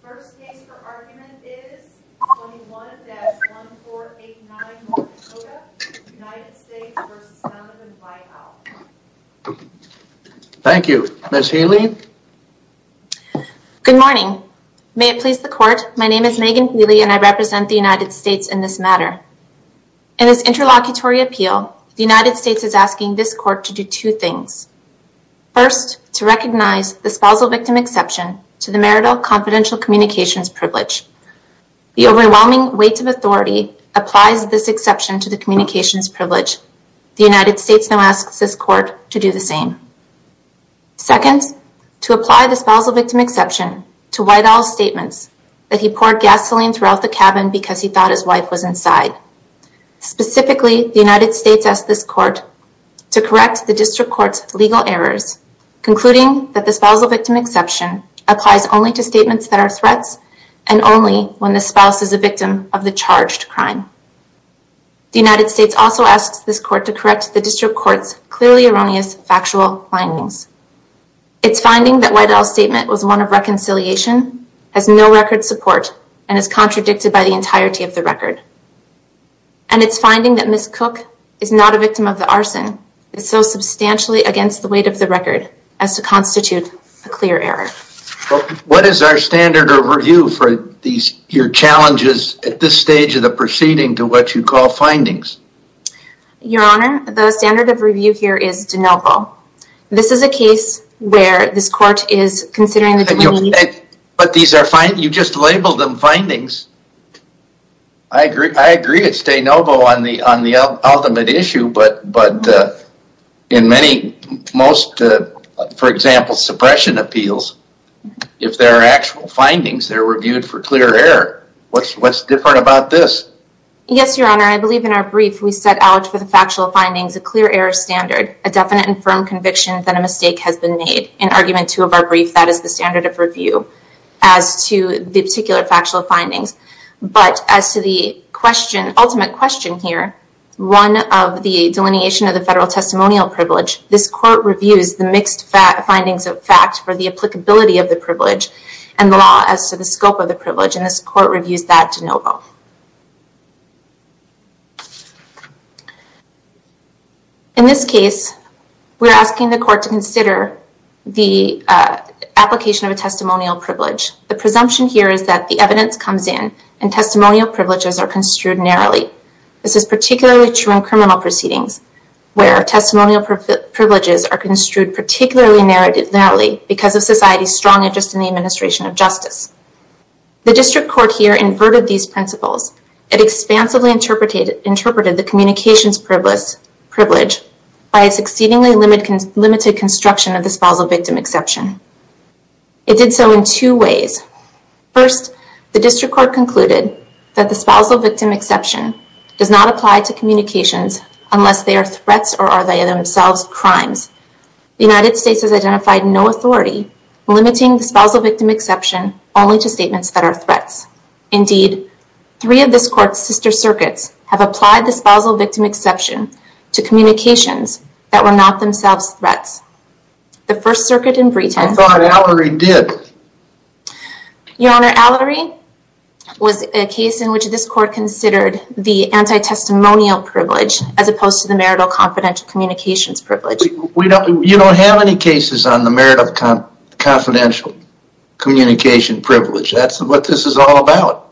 The first case for argument is 21-1489 Monticota, United States v. Donavan White Owl Thank you. Ms. Healy? Good morning. May it please the court, my name is Megan Healy and I represent the United States in this matter. In this interlocutory appeal, the United States is asking this court to do two things. First, to recognize the spousal victim exception to the marital confidential communications privilege. The overwhelming weight of authority applies this exception to the communications privilege. The United States now asks this court to do the same. Second, to apply the spousal victim exception to White Owl's statements that he poured gasoline throughout the cabin because he thought his wife was inside. Specifically, the United States asks this court to correct the district court's legal errors, concluding that the spousal victim exception applies only to statements that are threats and only when the spouse is a victim of the charged crime. The United States also asks this court to correct the district court's clearly erroneous factual findings. It's finding that White Owl's statement was one of reconciliation, has no record support, and is contradicted by the entirety of the record. And it's finding that Ms. Cook is not a victim of the arson, is so substantially against the weight of the record as to constitute a clear error. What is our standard of review for these your challenges at this stage of the proceeding to what you call findings? Your Honor, the standard of review here is de novo. This is a case where this court is considering... But these are fine, you just labeled them findings. I agree it's de novo on the ultimate issue, but in many, most, for example, suppression appeals, if there are actual findings, they're reviewed for clear error. What's different about this? Yes, Your Honor, I believe in our brief we set out for the factual findings a clear error standard, a definite and firm conviction that a mistake has been made. In argument two of our brief, that is the standard of review as to the particular factual findings. But as to the ultimate question here, one of the delineation of the federal testimonial privilege, this court reviews the mixed findings of fact for the applicability of the privilege and the law as to the scope of the privilege, and this court reviews that de novo. In this case, we're asking the court to consider the application of a testimonial privilege. The presumption here is that the evidence comes in and testimonial privileges are construed narrowly. This is particularly true in criminal proceedings, where testimonial privileges are construed particularly narrowly because of society's strong interest in the administration of justice. It expansively interpreted the communications privilege by a succeedingly limited construction of the spousal victim exception. It did so in two ways. First, the district court concluded that the spousal victim exception does not apply to communications unless they are threats or are they themselves crimes. The United States has identified no authority limiting the spousal victim exception only to statements that are threats. Indeed, three of this court's sister circuits have applied the spousal victim exception to communications that were not themselves threats. The first circuit in Breeton- I thought Allery did. Your Honor, Allery was a case in which this court considered the anti-testimonial privilege as opposed to the marital confidential communications privilege. You don't have any cases on the marital confidential communication privilege. That's what this is all about.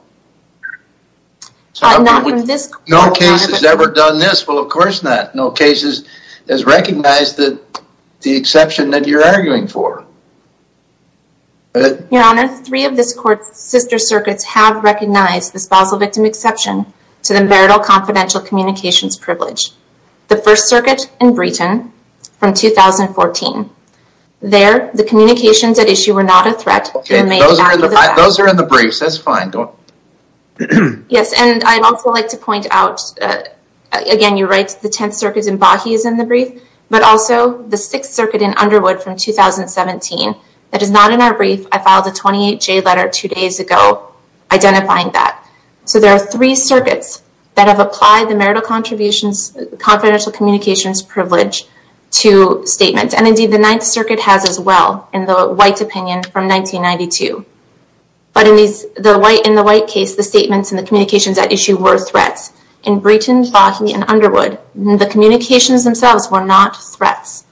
No case has ever done this. Well, of course not. No case has recognized the exception that you're arguing for. Your Honor, three of this court's sister circuits have recognized the spousal victim exception to the marital confidential communications privilege. The first circuit in Breeton from 2014. There, the communications at issue were not a threat. Okay, those are in the briefs. That's fine. Yes, and I'd also like to point out, again, you're right, the 10th circuit in Bahi is in the brief, but also the 6th circuit in Underwood from 2017. That is not in our brief. I filed a 28J letter two days ago identifying that. So there are three circuits that have applied the marital contributions confidential communications privilege to statements. And indeed, the 9th circuit in Bahi was in 1992. But in the White case, the statements and the communications at issue were threats. In Breeton, Bahi, and Underwood, the communications themselves were not threats.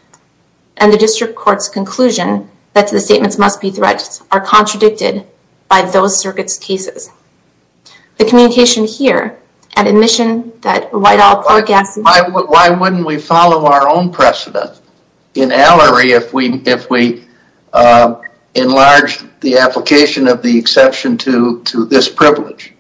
And the district court's conclusion that the statements must be threats are contradicted by those circuits' cases. The communication here, and admission that Whitehall- Why wouldn't we follow our own precedent in Allery if we enlarge the application of the exception to this privilege?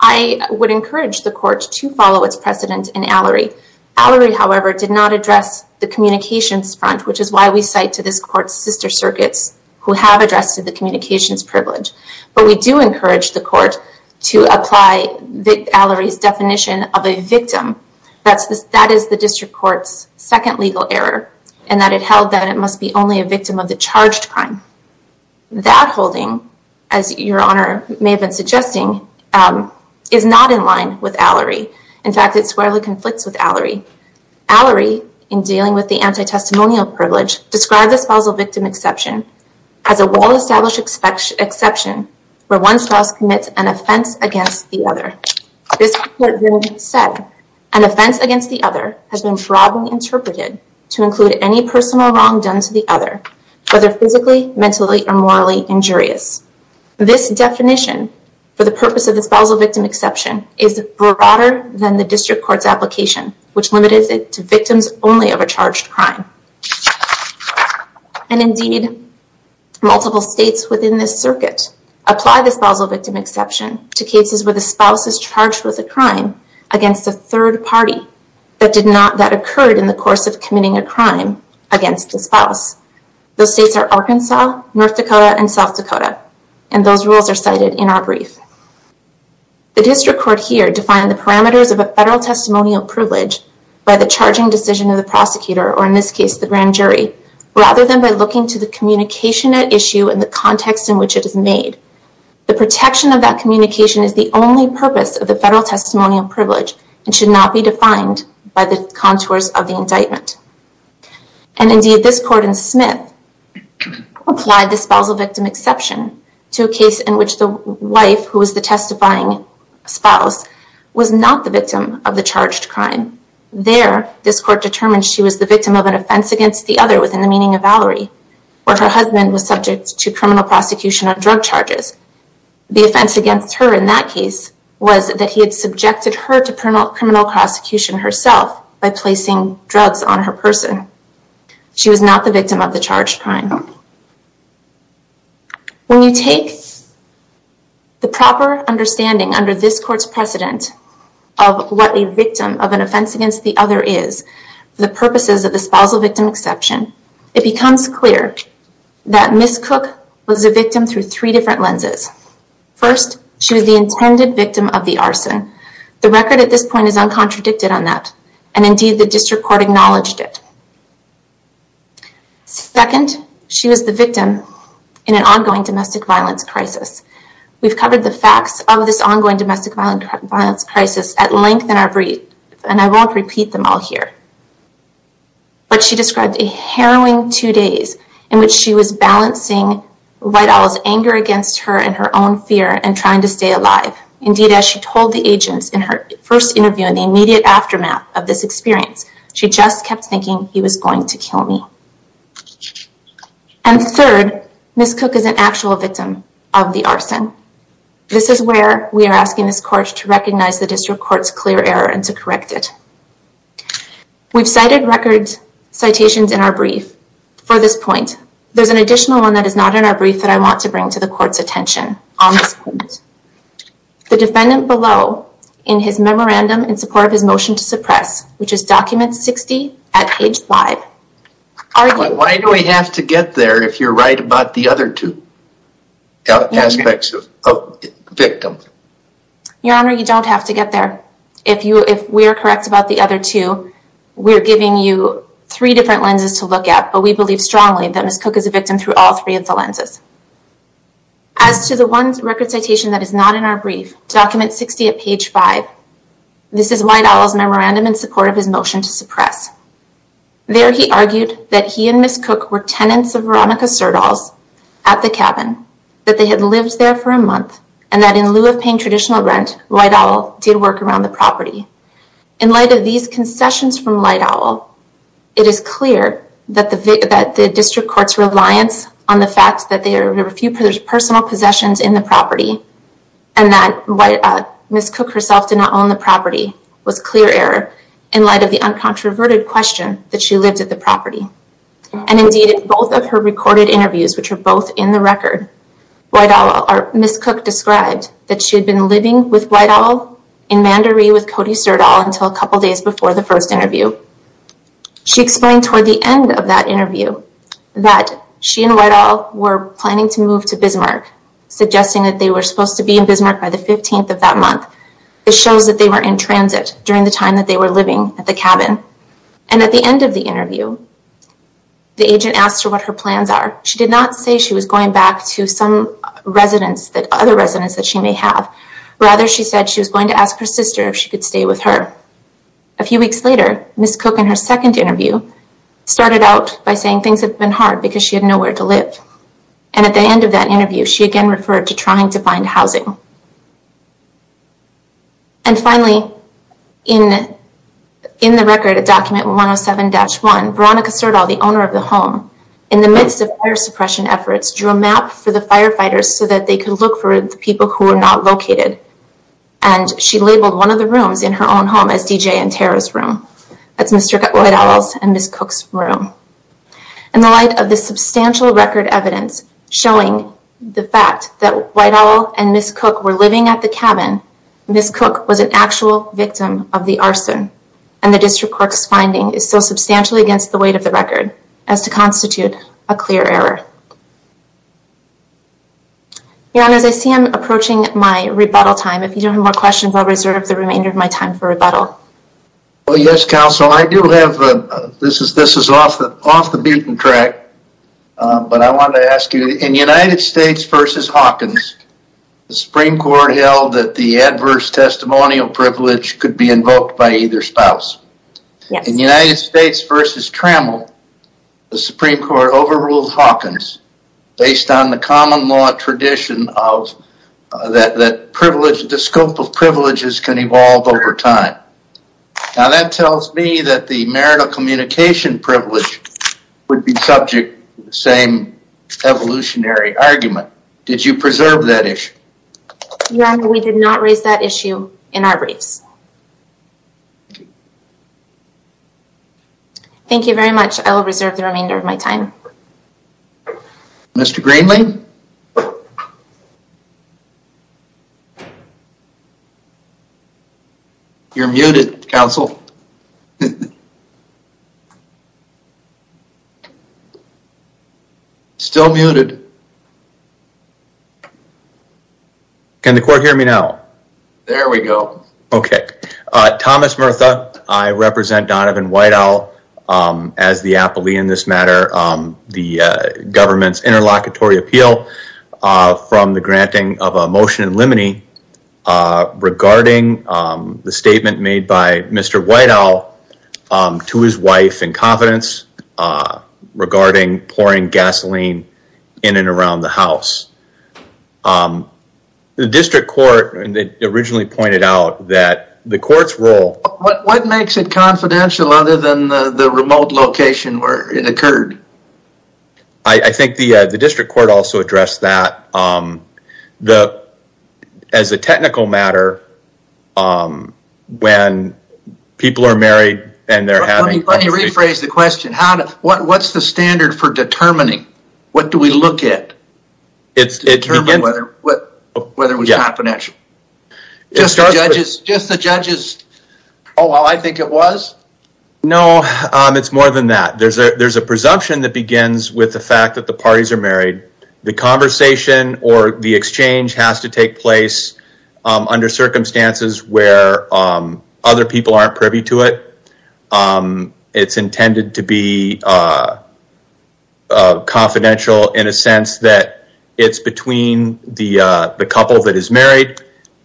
I would encourage the court to follow its precedent in Allery. Allery, however, did not address the communications front, which is why we cite to this court's sister circuits who have addressed the communications privilege. But we do encourage the court to apply Allery's definition of a victim. That is the district court's second legal error, and that it held that it must be only a victim of the charged crime. That holding, as your honor may have been suggesting, is not in line with Allery. In fact, it squarely conflicts with Allery. Allery, in dealing with the anti-testimonial privilege, described the spousal victim exception as a well-established exception where one spouse commits an offense against the other. This court then said, an offense against the other has been broadly interpreted to include any personal wrong done to the other, whether physically, mentally, or morally injurious. This definition, for the purpose of the spousal victim exception, is broader than the district court's application, which limited it to victims only of a charged crime. And indeed, multiple states within this circuit apply the spousal victim exception to cases where the spouse is charged with a crime against a third party that did not, that occurred in the course of committing a crime against the spouse. Those states are Arkansas, North Dakota, and South Dakota, and those rules are cited in our brief. The district court here defined the parameters of a federal testimonial privilege by the charging decision of the prosecutor, or in this case, the grand jury, rather than by looking to the communication at issue and the context in which it is made. The protection of that communication is the only purpose of the federal testimonial privilege and should not be defined by the contours of the indictment. And indeed, this court in Smith applied the spousal victim exception to a case in which the wife, who was the testifying spouse, was not the victim of the charged crime. There, this court determined she was the victim of an offense against the other within the meaning of Valerie, where her husband was subject to criminal prosecution on drug charges. The offense against her in that case was that he had subjected her to criminal prosecution herself by placing drugs on her person. She was not the victim of charged crime. When you take the proper understanding under this court's precedent of what a victim of an offense against the other is, the purposes of the spousal victim exception, it becomes clear that Ms. Cook was a victim through three different lenses. First, she was the intended victim of the arson. The record at this point is uncontradicted on that, and indeed, the district court acknowledged it. Second, she was the victim in an ongoing domestic violence crisis. We've covered the facts of this ongoing domestic violence crisis at length in our brief, and I won't repeat them all here. But she described a harrowing two days in which she was balancing Whitehall's anger against her and her own fear and trying to stay alive. Indeed, as she told the agents in her first interview in the immediate aftermath of this experience, she just kept thinking he was going to kill me. And third, Ms. Cook is an actual victim of the arson. This is where we are asking this court to recognize the district court's clear error and to correct it. We've cited record citations in our brief for this point. There's an additional one that is not in our brief that I want to bring to the court's attention on this point. The defendant below in his memorandum in support of his motion to suppress, which is document 60 at page 5. Why do I have to get there if you're right about the other two aspects of victim? Your Honor, you don't have to get there. If we are correct about the other two, we're giving you three different lenses to look at, but we believe strongly that Ms. Cook is a victim through all three of the lenses. As to the one record citation that is not in our brief, document 60 at page 5. This is White Owl's memorandum in support of his motion to suppress. There he argued that he and Ms. Cook were tenants of Veronica Serdal's at the cabin, that they had lived there for a month, and that in lieu of paying traditional rent, White Owl did work around the property. In light of these concessions from White Owl, it is clear that the district court's in the property, and that Ms. Cook herself did not own the property, was clear error in light of the uncontroverted question that she lived at the property. Indeed, in both of her recorded interviews, which are both in the record, Ms. Cook described that she had been living with White Owl in Mandaree with Cody Serdal until a couple days before the first interview. She explained toward the end of that interview that she and White Owl were planning to move to Bismarck, suggesting that they were supposed to be in Bismarck by the 15th of that month. This shows that they were in transit during the time that they were living at the cabin. And at the end of the interview, the agent asked her what her plans are. She did not say she was going back to some other residence that she may have. Rather, she said she was going to ask her sister if she could stay with her. A few weeks later, Ms. Cook in her second interview started out by saying things have been hard because she had nowhere to live. And at the end of that interview, she again referred to trying to find housing. And finally, in the record at document 107-1, Veronica Serdal, the owner of the home, in the midst of fire suppression efforts, drew a map for the firefighters so that they could look for the people who were not located. And she labeled one of the rooms in her own home as DJ and Tara's room. That's Mr. White Owl's and Ms. Cook's room. In the light of this substantial record evidence showing the fact that White Owl and Ms. Cook were living at the cabin, Ms. Cook was an actual victim of the arson. And the District Court's finding is so substantially against the weight of the record as to constitute a clear error. Your Honor, as I see I'm approaching my rebuttal time, if you don't have more questions, I'll reserve the remainder of my time for rebuttal. Well, yes, Counsel, I do have, this is off the butane track, but I wanted to ask you, in United States v. Hawkins, the Supreme Court held that the adverse testimonial privilege could be invoked by either spouse. In United States v. Trammell, the Supreme Court overruled Hawkins based on the common law tradition of that privilege, the scope of privileges can evolve over time. Now that tells me that the marital communication privilege would be subject to the same evolutionary argument. Did you preserve that issue? Your Honor, we did not raise that issue in our briefs. Thank you very much. I will reserve the remainder of my time. Mr. Greenlee? You're muted, Counsel. Still muted. Can the court hear me now? There we go. Okay. Thomas Murtha, I represent Donovan White Owl as the appellee in this matter, the government's interlocutory appeal from the granting of a motion in limine regarding the statement made by Mr. White Owl to his wife in confidence regarding pouring gasoline in and around the house. The district court originally pointed out that the court's role... What makes it confidential other than the remote location where it occurred? I think the district court also addressed that. As a technical matter, when people are married and they're having... Let me rephrase the question. What's the standard for determining? What do we look at to determine whether it was confidential? Just the judge's Oh, I think it was. No, it's more than that. There's a presumption that begins with the fact that the parties are married. The conversation or the exchange has to take place under circumstances where other people aren't privy to it. It's intended to be confidential in a sense that it's between the couple that is married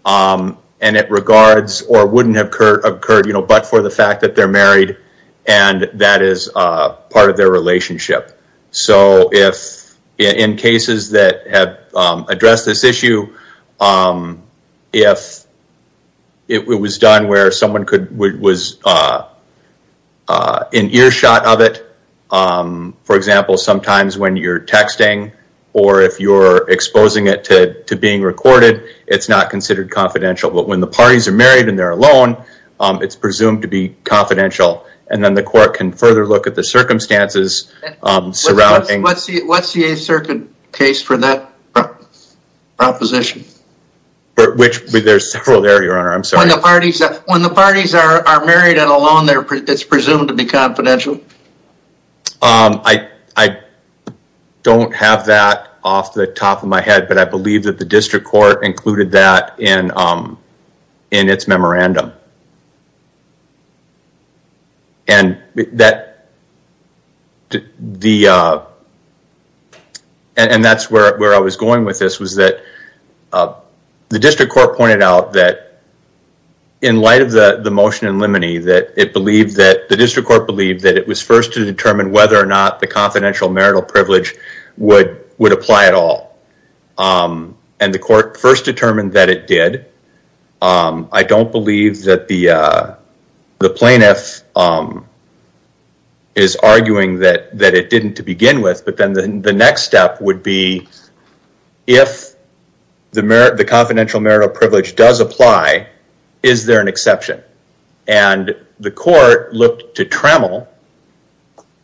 and it regards or wouldn't have occurred but for the fact that they're married and that is part of their relationship. In cases that have addressed this issue, if it was done where someone was in earshot of it, for example, sometimes when you're exposing it to being recorded, it's not considered confidential. But when the parties are married and they're alone, it's presumed to be confidential. And then the court can further look at the circumstances surrounding... What's the case for that proposition? Which there's several there, your honor. I'm sorry. When the parties are married and alone, it's presumed to be confidential. I don't have that off the top of my head, but I believe that the district court included that in its memorandum. And that's where I was going with this was that the district court pointed out that in light of the motion in limine that the district court believed that it was first to determine whether or not the confidential marital privilege would apply at all. And the court first determined that it did. I don't believe that the plaintiff is arguing that it didn't to begin with, but then the next step would be if the confidential marital privilege does apply, is there an exception? And the court looked to Tremel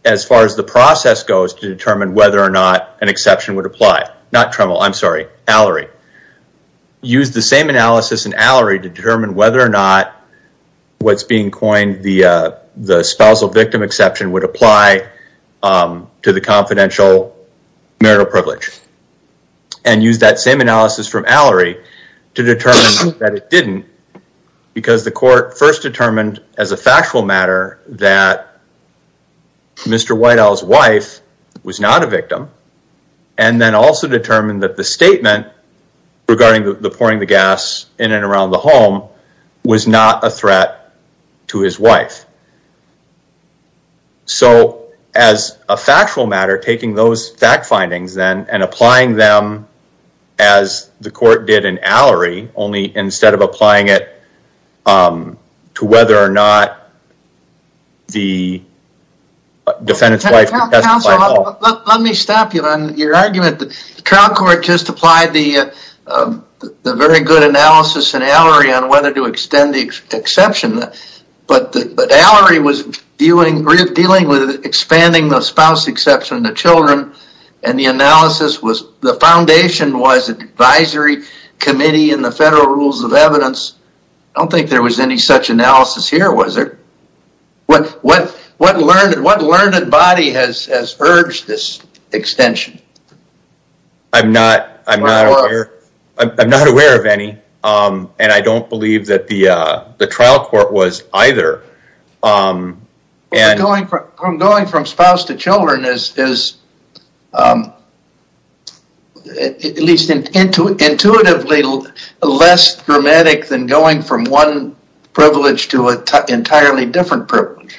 as far as the process goes to determine whether or not an exception would apply. Not Tremel, I'm sorry, Allery. Use the same analysis in Allery to determine whether or not what's being coined the spousal victim exception would apply to the confidential marital privilege. And use that same analysis from Allery to determine that it didn't because the court first determined as a factual matter that Mr. Whitehall's wife was not a victim. And then also determined that the statement regarding the pouring the gas in and around the home was not a threat to his wife. So as a factual matter, taking those fact findings then applying them as the court did in Allery, only instead of applying it to whether or not the defendant's wife would testify at all. Let me stop you on your argument. The trial court just applied the very good analysis in Allery on whether to extend the exception. But Allery was dealing with expanding the spouse exception to children. And the analysis was the foundation was advisory committee and the federal rules of evidence. I don't think there was any such analysis here, was there? What learned body has urged this extension? I'm not aware of any. And I don't believe that the trial court was either. From going from spouse to children is at least intuitively less dramatic than going from one privilege to an entirely different privilege.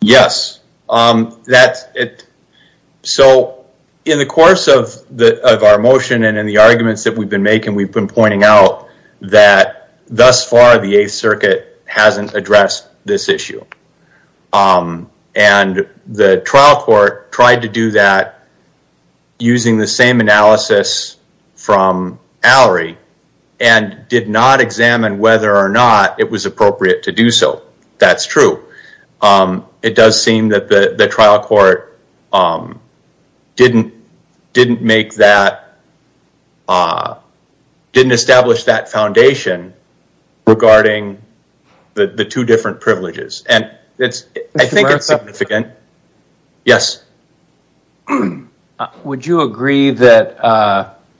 Yes. So in the course of our motion and the pointing out that thus far the 8th Circuit hasn't addressed this issue. And the trial court tried to do that using the same analysis from Allery and did not examine whether or not it was appropriate to do so. That's true. It does seem that the trial court didn't make that, didn't establish that foundation regarding the two different privileges. And I think it's significant. Yes. Yes. Would you agree that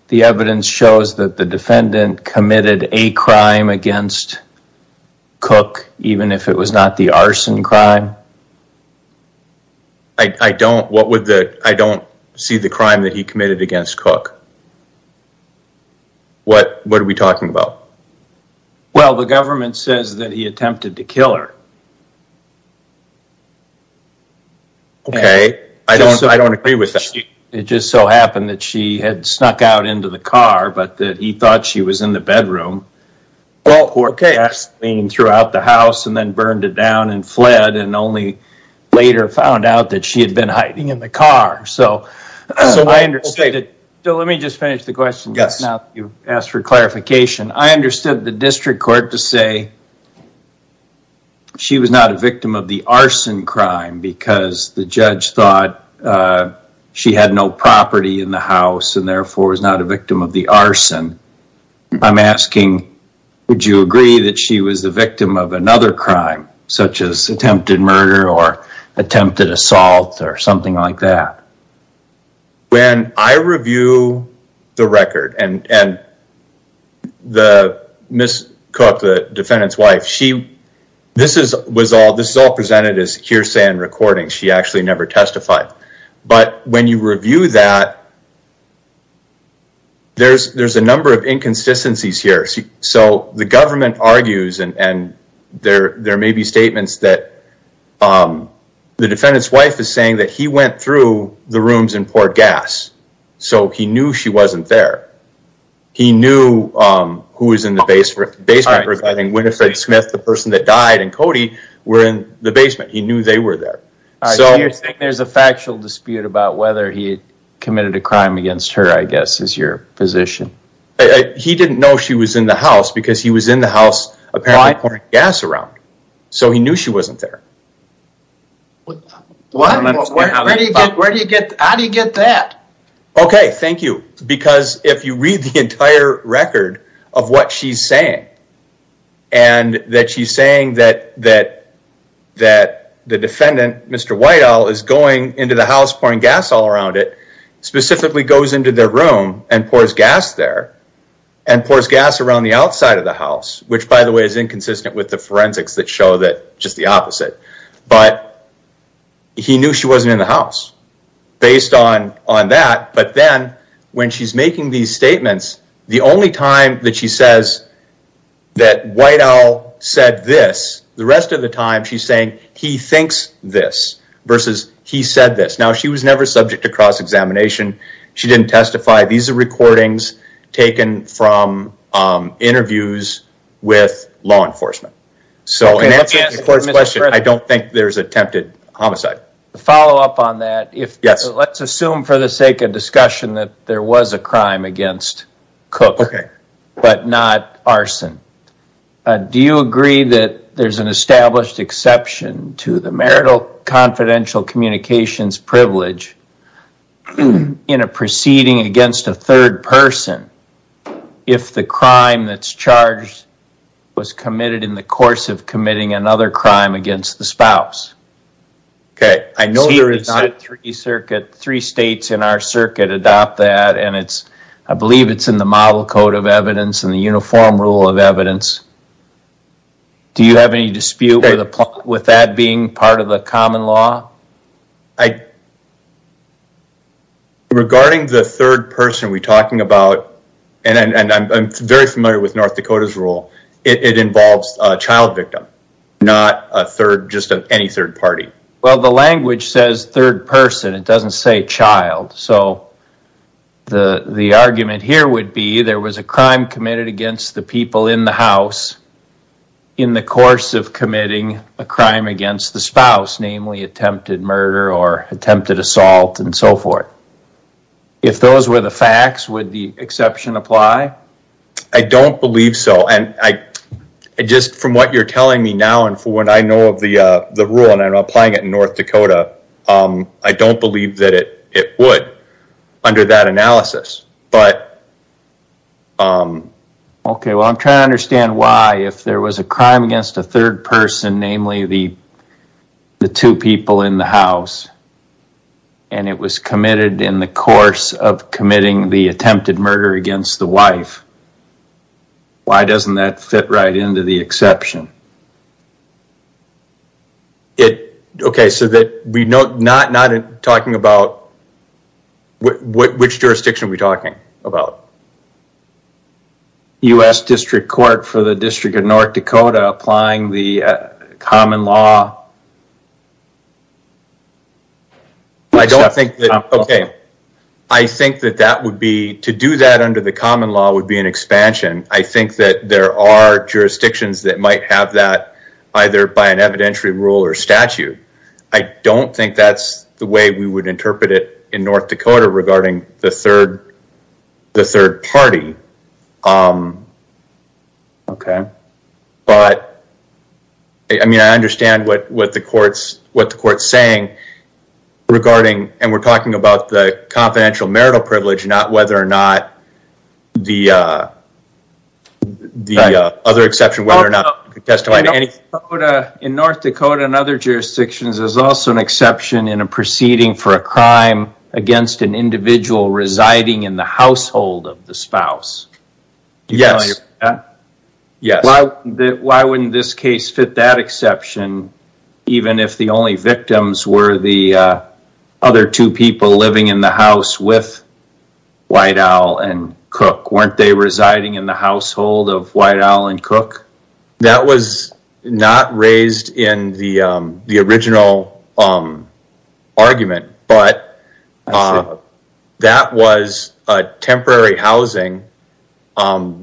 the evidence shows that the defendant committed a crime against Cook even if it was not the arson crime? I don't. I don't see the crime that he committed against Cook. What are we talking about? Well, the government says that he attempted to kill her. Okay. I don't agree with that. It just so happened that she had snuck out into the car, but that he thought she was in the bedroom. Well, okay. And threw out the house and then burned it down and fled and only later found out that she had been hiding in the car. So let me just finish the question. Yes. Now you've asked for clarification. I understood the district court to say she was not a victim of the arson crime because the judge thought she had no property in the house and therefore was not a victim of the arson. I'm asking, would you agree that she was the victim of another crime such as attempted murder or attempted assault or something like that? When I review the record and Ms. Cook, the defendant's wife, this is all presented as hearsay and recording. She actually never testified. But when you review that, there's a number of inconsistencies here. So the government argues and there may be statements that the defendant's wife is saying that he went through the rooms and poured gas. So he knew she wasn't there. He knew who was in the basement regarding Winifred Smith, the person that died, and Cody were in the basement. He knew they were there. So you're saying there's a factual dispute about whether he committed a crime against her, I guess, is your position. He didn't know she was in the house because he was in the house apparently pouring gas around. So he knew she wasn't there. How do you get that? Okay, thank you. Because if you read the entire record of what she's saying and that she's saying that the defendant, Mr. Whitehall, is going into the house pouring gas all around it, specifically goes into their room and pours gas there and pours gas around the outside of the house, which by the way is inconsistent with the forensics that show that just the opposite. But he knew she wasn't in the house based on that. But then when she's making these statements, the only time that she says that Whitehall said this, the rest of the time she's saying he thinks this versus he said this. Now she was never subject to cross-examination. She didn't testify. These are recordings taken from interviews with law enforcement. I don't think there's attempted homicide. To follow up on that, let's assume for the sake of discussion that there was a crime against Cook but not arson. Do you agree that there's an established exception to the marital confidential communications privilege in a proceeding against a third person if the crime that's charged was committed in the course of committing another crime against the spouse? Okay, I know there is not three circuits. Three states in our circuit adopt that and I believe it's in the model code of any dispute with that being part of the common law. Regarding the third person we're talking about, and I'm very familiar with North Dakota's rule, it involves a child victim, not just any third party. Well, the language says third person. It doesn't say child. So the argument here would be there was a crime committed against the people in the house in the course of committing a crime against the spouse, namely attempted murder or attempted assault and so forth. If those were the facts, would the exception apply? I don't believe so. Just from what you're telling me now and for what I know of the rule, and I'm applying it in North Dakota, I don't believe that it would under that analysis. But... Okay, well I'm trying to understand why if there was a crime against a third person, namely the two people in the house, and it was committed in the course of committing the attempted murder against the wife, why doesn't that fit right into the exception? Okay, so that we're not talking about... Which jurisdiction are we talking about? U.S. District Court for the District of North Dakota applying the common law. I don't think that... Okay, I think that that would be... To do that under the common law would be an expansion. I think that there are jurisdictions that might have to be expanded. Either by an evidentiary rule or statute. I don't think that's the way we would interpret it in North Dakota regarding the third party. Okay, but I mean I understand what the court's saying regarding... And we're talking about the confidential marital privilege, not whether or not the other exception, whether or not... In North Dakota and other jurisdictions, there's also an exception in a proceeding for a crime against an individual residing in the household of the spouse. Yes. Why wouldn't this case fit that exception, even if the only victims were the other two people living in the house with White Owl and Cook? Weren't they residing in the household of White Owl and Cook? That was not raised in the original argument, but that was a temporary housing.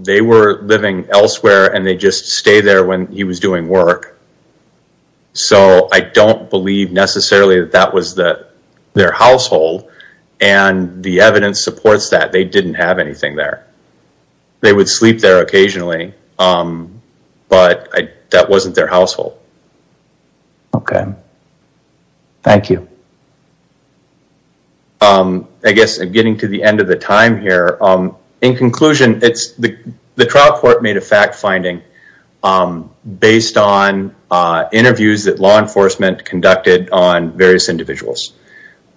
They were living elsewhere and they just stay there when he was doing work. So I don't believe necessarily that that was their household and the evidence supports that they didn't have anything there. They would sleep there occasionally, but that wasn't their household. Okay. Thank you. I guess I'm getting to the end of the time here. In conclusion, the trial court made a fact finding based on interviews that law enforcement conducted on various individuals,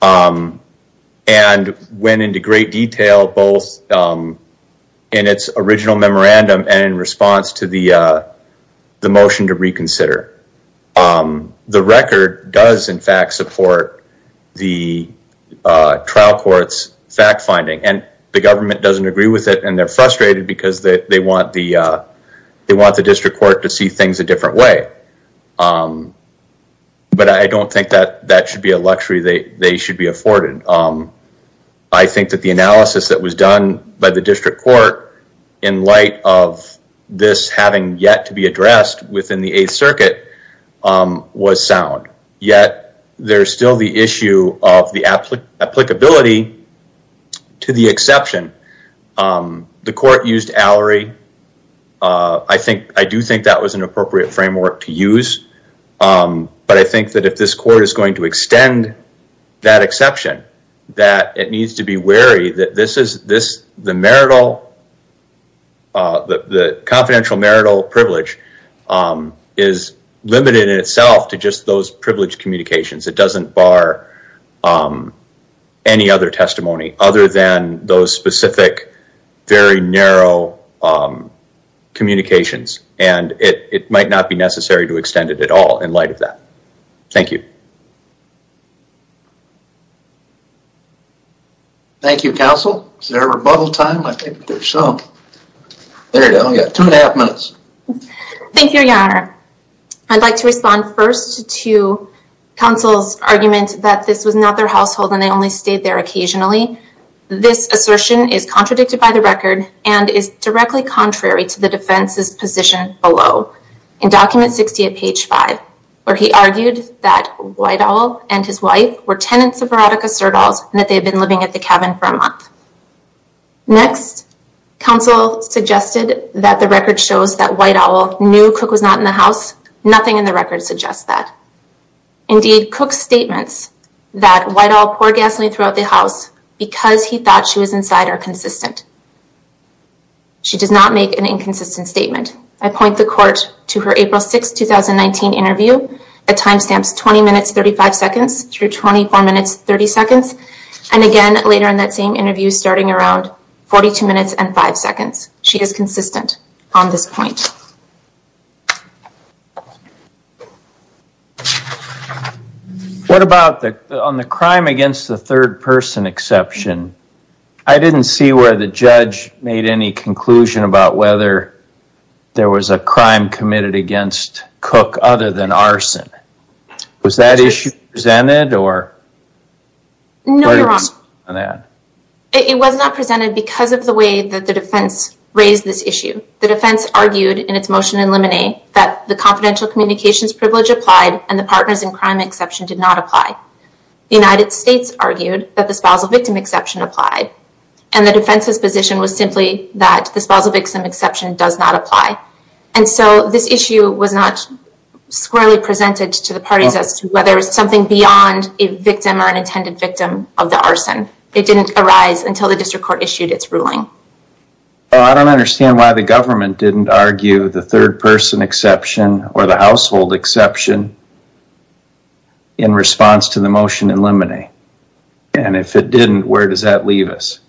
and went into great detail both in its original memorandum and in response to the motion to reconsider. The record does in fact support the trial court's fact finding, and the government doesn't agree with it and they're frustrated because they want the district court to see things a different way. But I don't think that that should be a luxury they should be afforded. I think that the analysis that was done by the district court in light of this having yet to be addressed within the Eighth Circuit was sound. Yet, there's still the issue of the applicability to the exception. The court used hourly. I do think that was an appropriate framework to use. But I think that if this court is going to extend that exception, that it needs to be wary that the confidential marital privilege is limited in itself to just those privileged communications. It doesn't bar any other testimony other than those specific, very narrow communications, and it might not be necessary to extend it at all in light of that. Thank you. Thank you, counsel. Is there a rebuttal time? I think there's some. There you go. You got two and a half minutes. Thank you, your honor. I'd like to respond first to counsel's argument that this was not their household and they only stayed there occasionally. This assertion is contradicted by the record and is directly contrary to the defense's position below. In document 60 at page 5, where he argued that Whitehall and his wife were tenants of that house, nothing in the record suggests that. Indeed, Cook's statements that Whitehall poured gasoline throughout the house because he thought she was inside are consistent. She does not make an inconsistent statement. I point the court to her April 6, 2019 interview that timestamps 20 minutes, 35 seconds through 24 minutes, 30 seconds. And again, later in that same interview, starting around 42 minutes and 5 seconds. She is consistent on this point. What about on the crime against the third person exception? I didn't see where the judge made any conclusion about whether there was a crime committed against Cook other than arson. Was that issue presented? No, your honor. It was not presented because of the way that the defense raised this issue. The defense argued in its motion in limine that the confidential communications privilege applied and the partners in crime exception did not apply. The United States argued that the spousal victim exception applied and the defense's position was simply that the spousal victim exception did not apply. I don't understand why the government didn't argue the third person exception or the household exception in response to the motion in limine. And if it didn't, where does that leave us?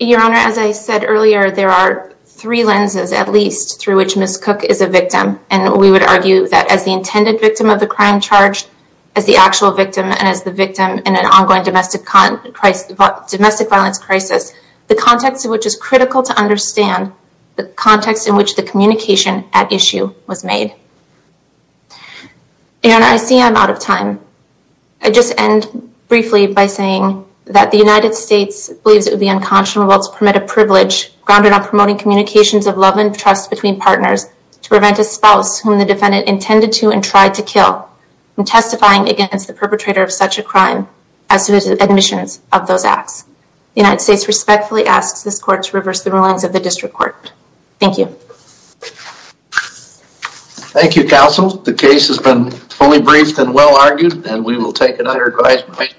Your honor, as I said earlier, there are three lenses at least through which Ms. Cook is a victim. And we would argue that as the intended victim of the crime charge, as the actual victim, and as the victim in an ongoing domestic violence crisis, the context in which is critical to understand the context in which the communication at issue was made. Your honor, I see I'm out of time. I just end briefly by saying that the United States believes it would be unconscionable to permit a privilege grounded on promoting communications of love and trust between partners to prevent a spouse whom the defendant intended to and tried to kill from testifying against the perpetrator of such a crime as to the admissions of those acts. The United States respectfully asks this court to reverse the rulings of the district court. Thank you. Thank you, counsel. The case has been fully briefed and well argued and we will take another advisement.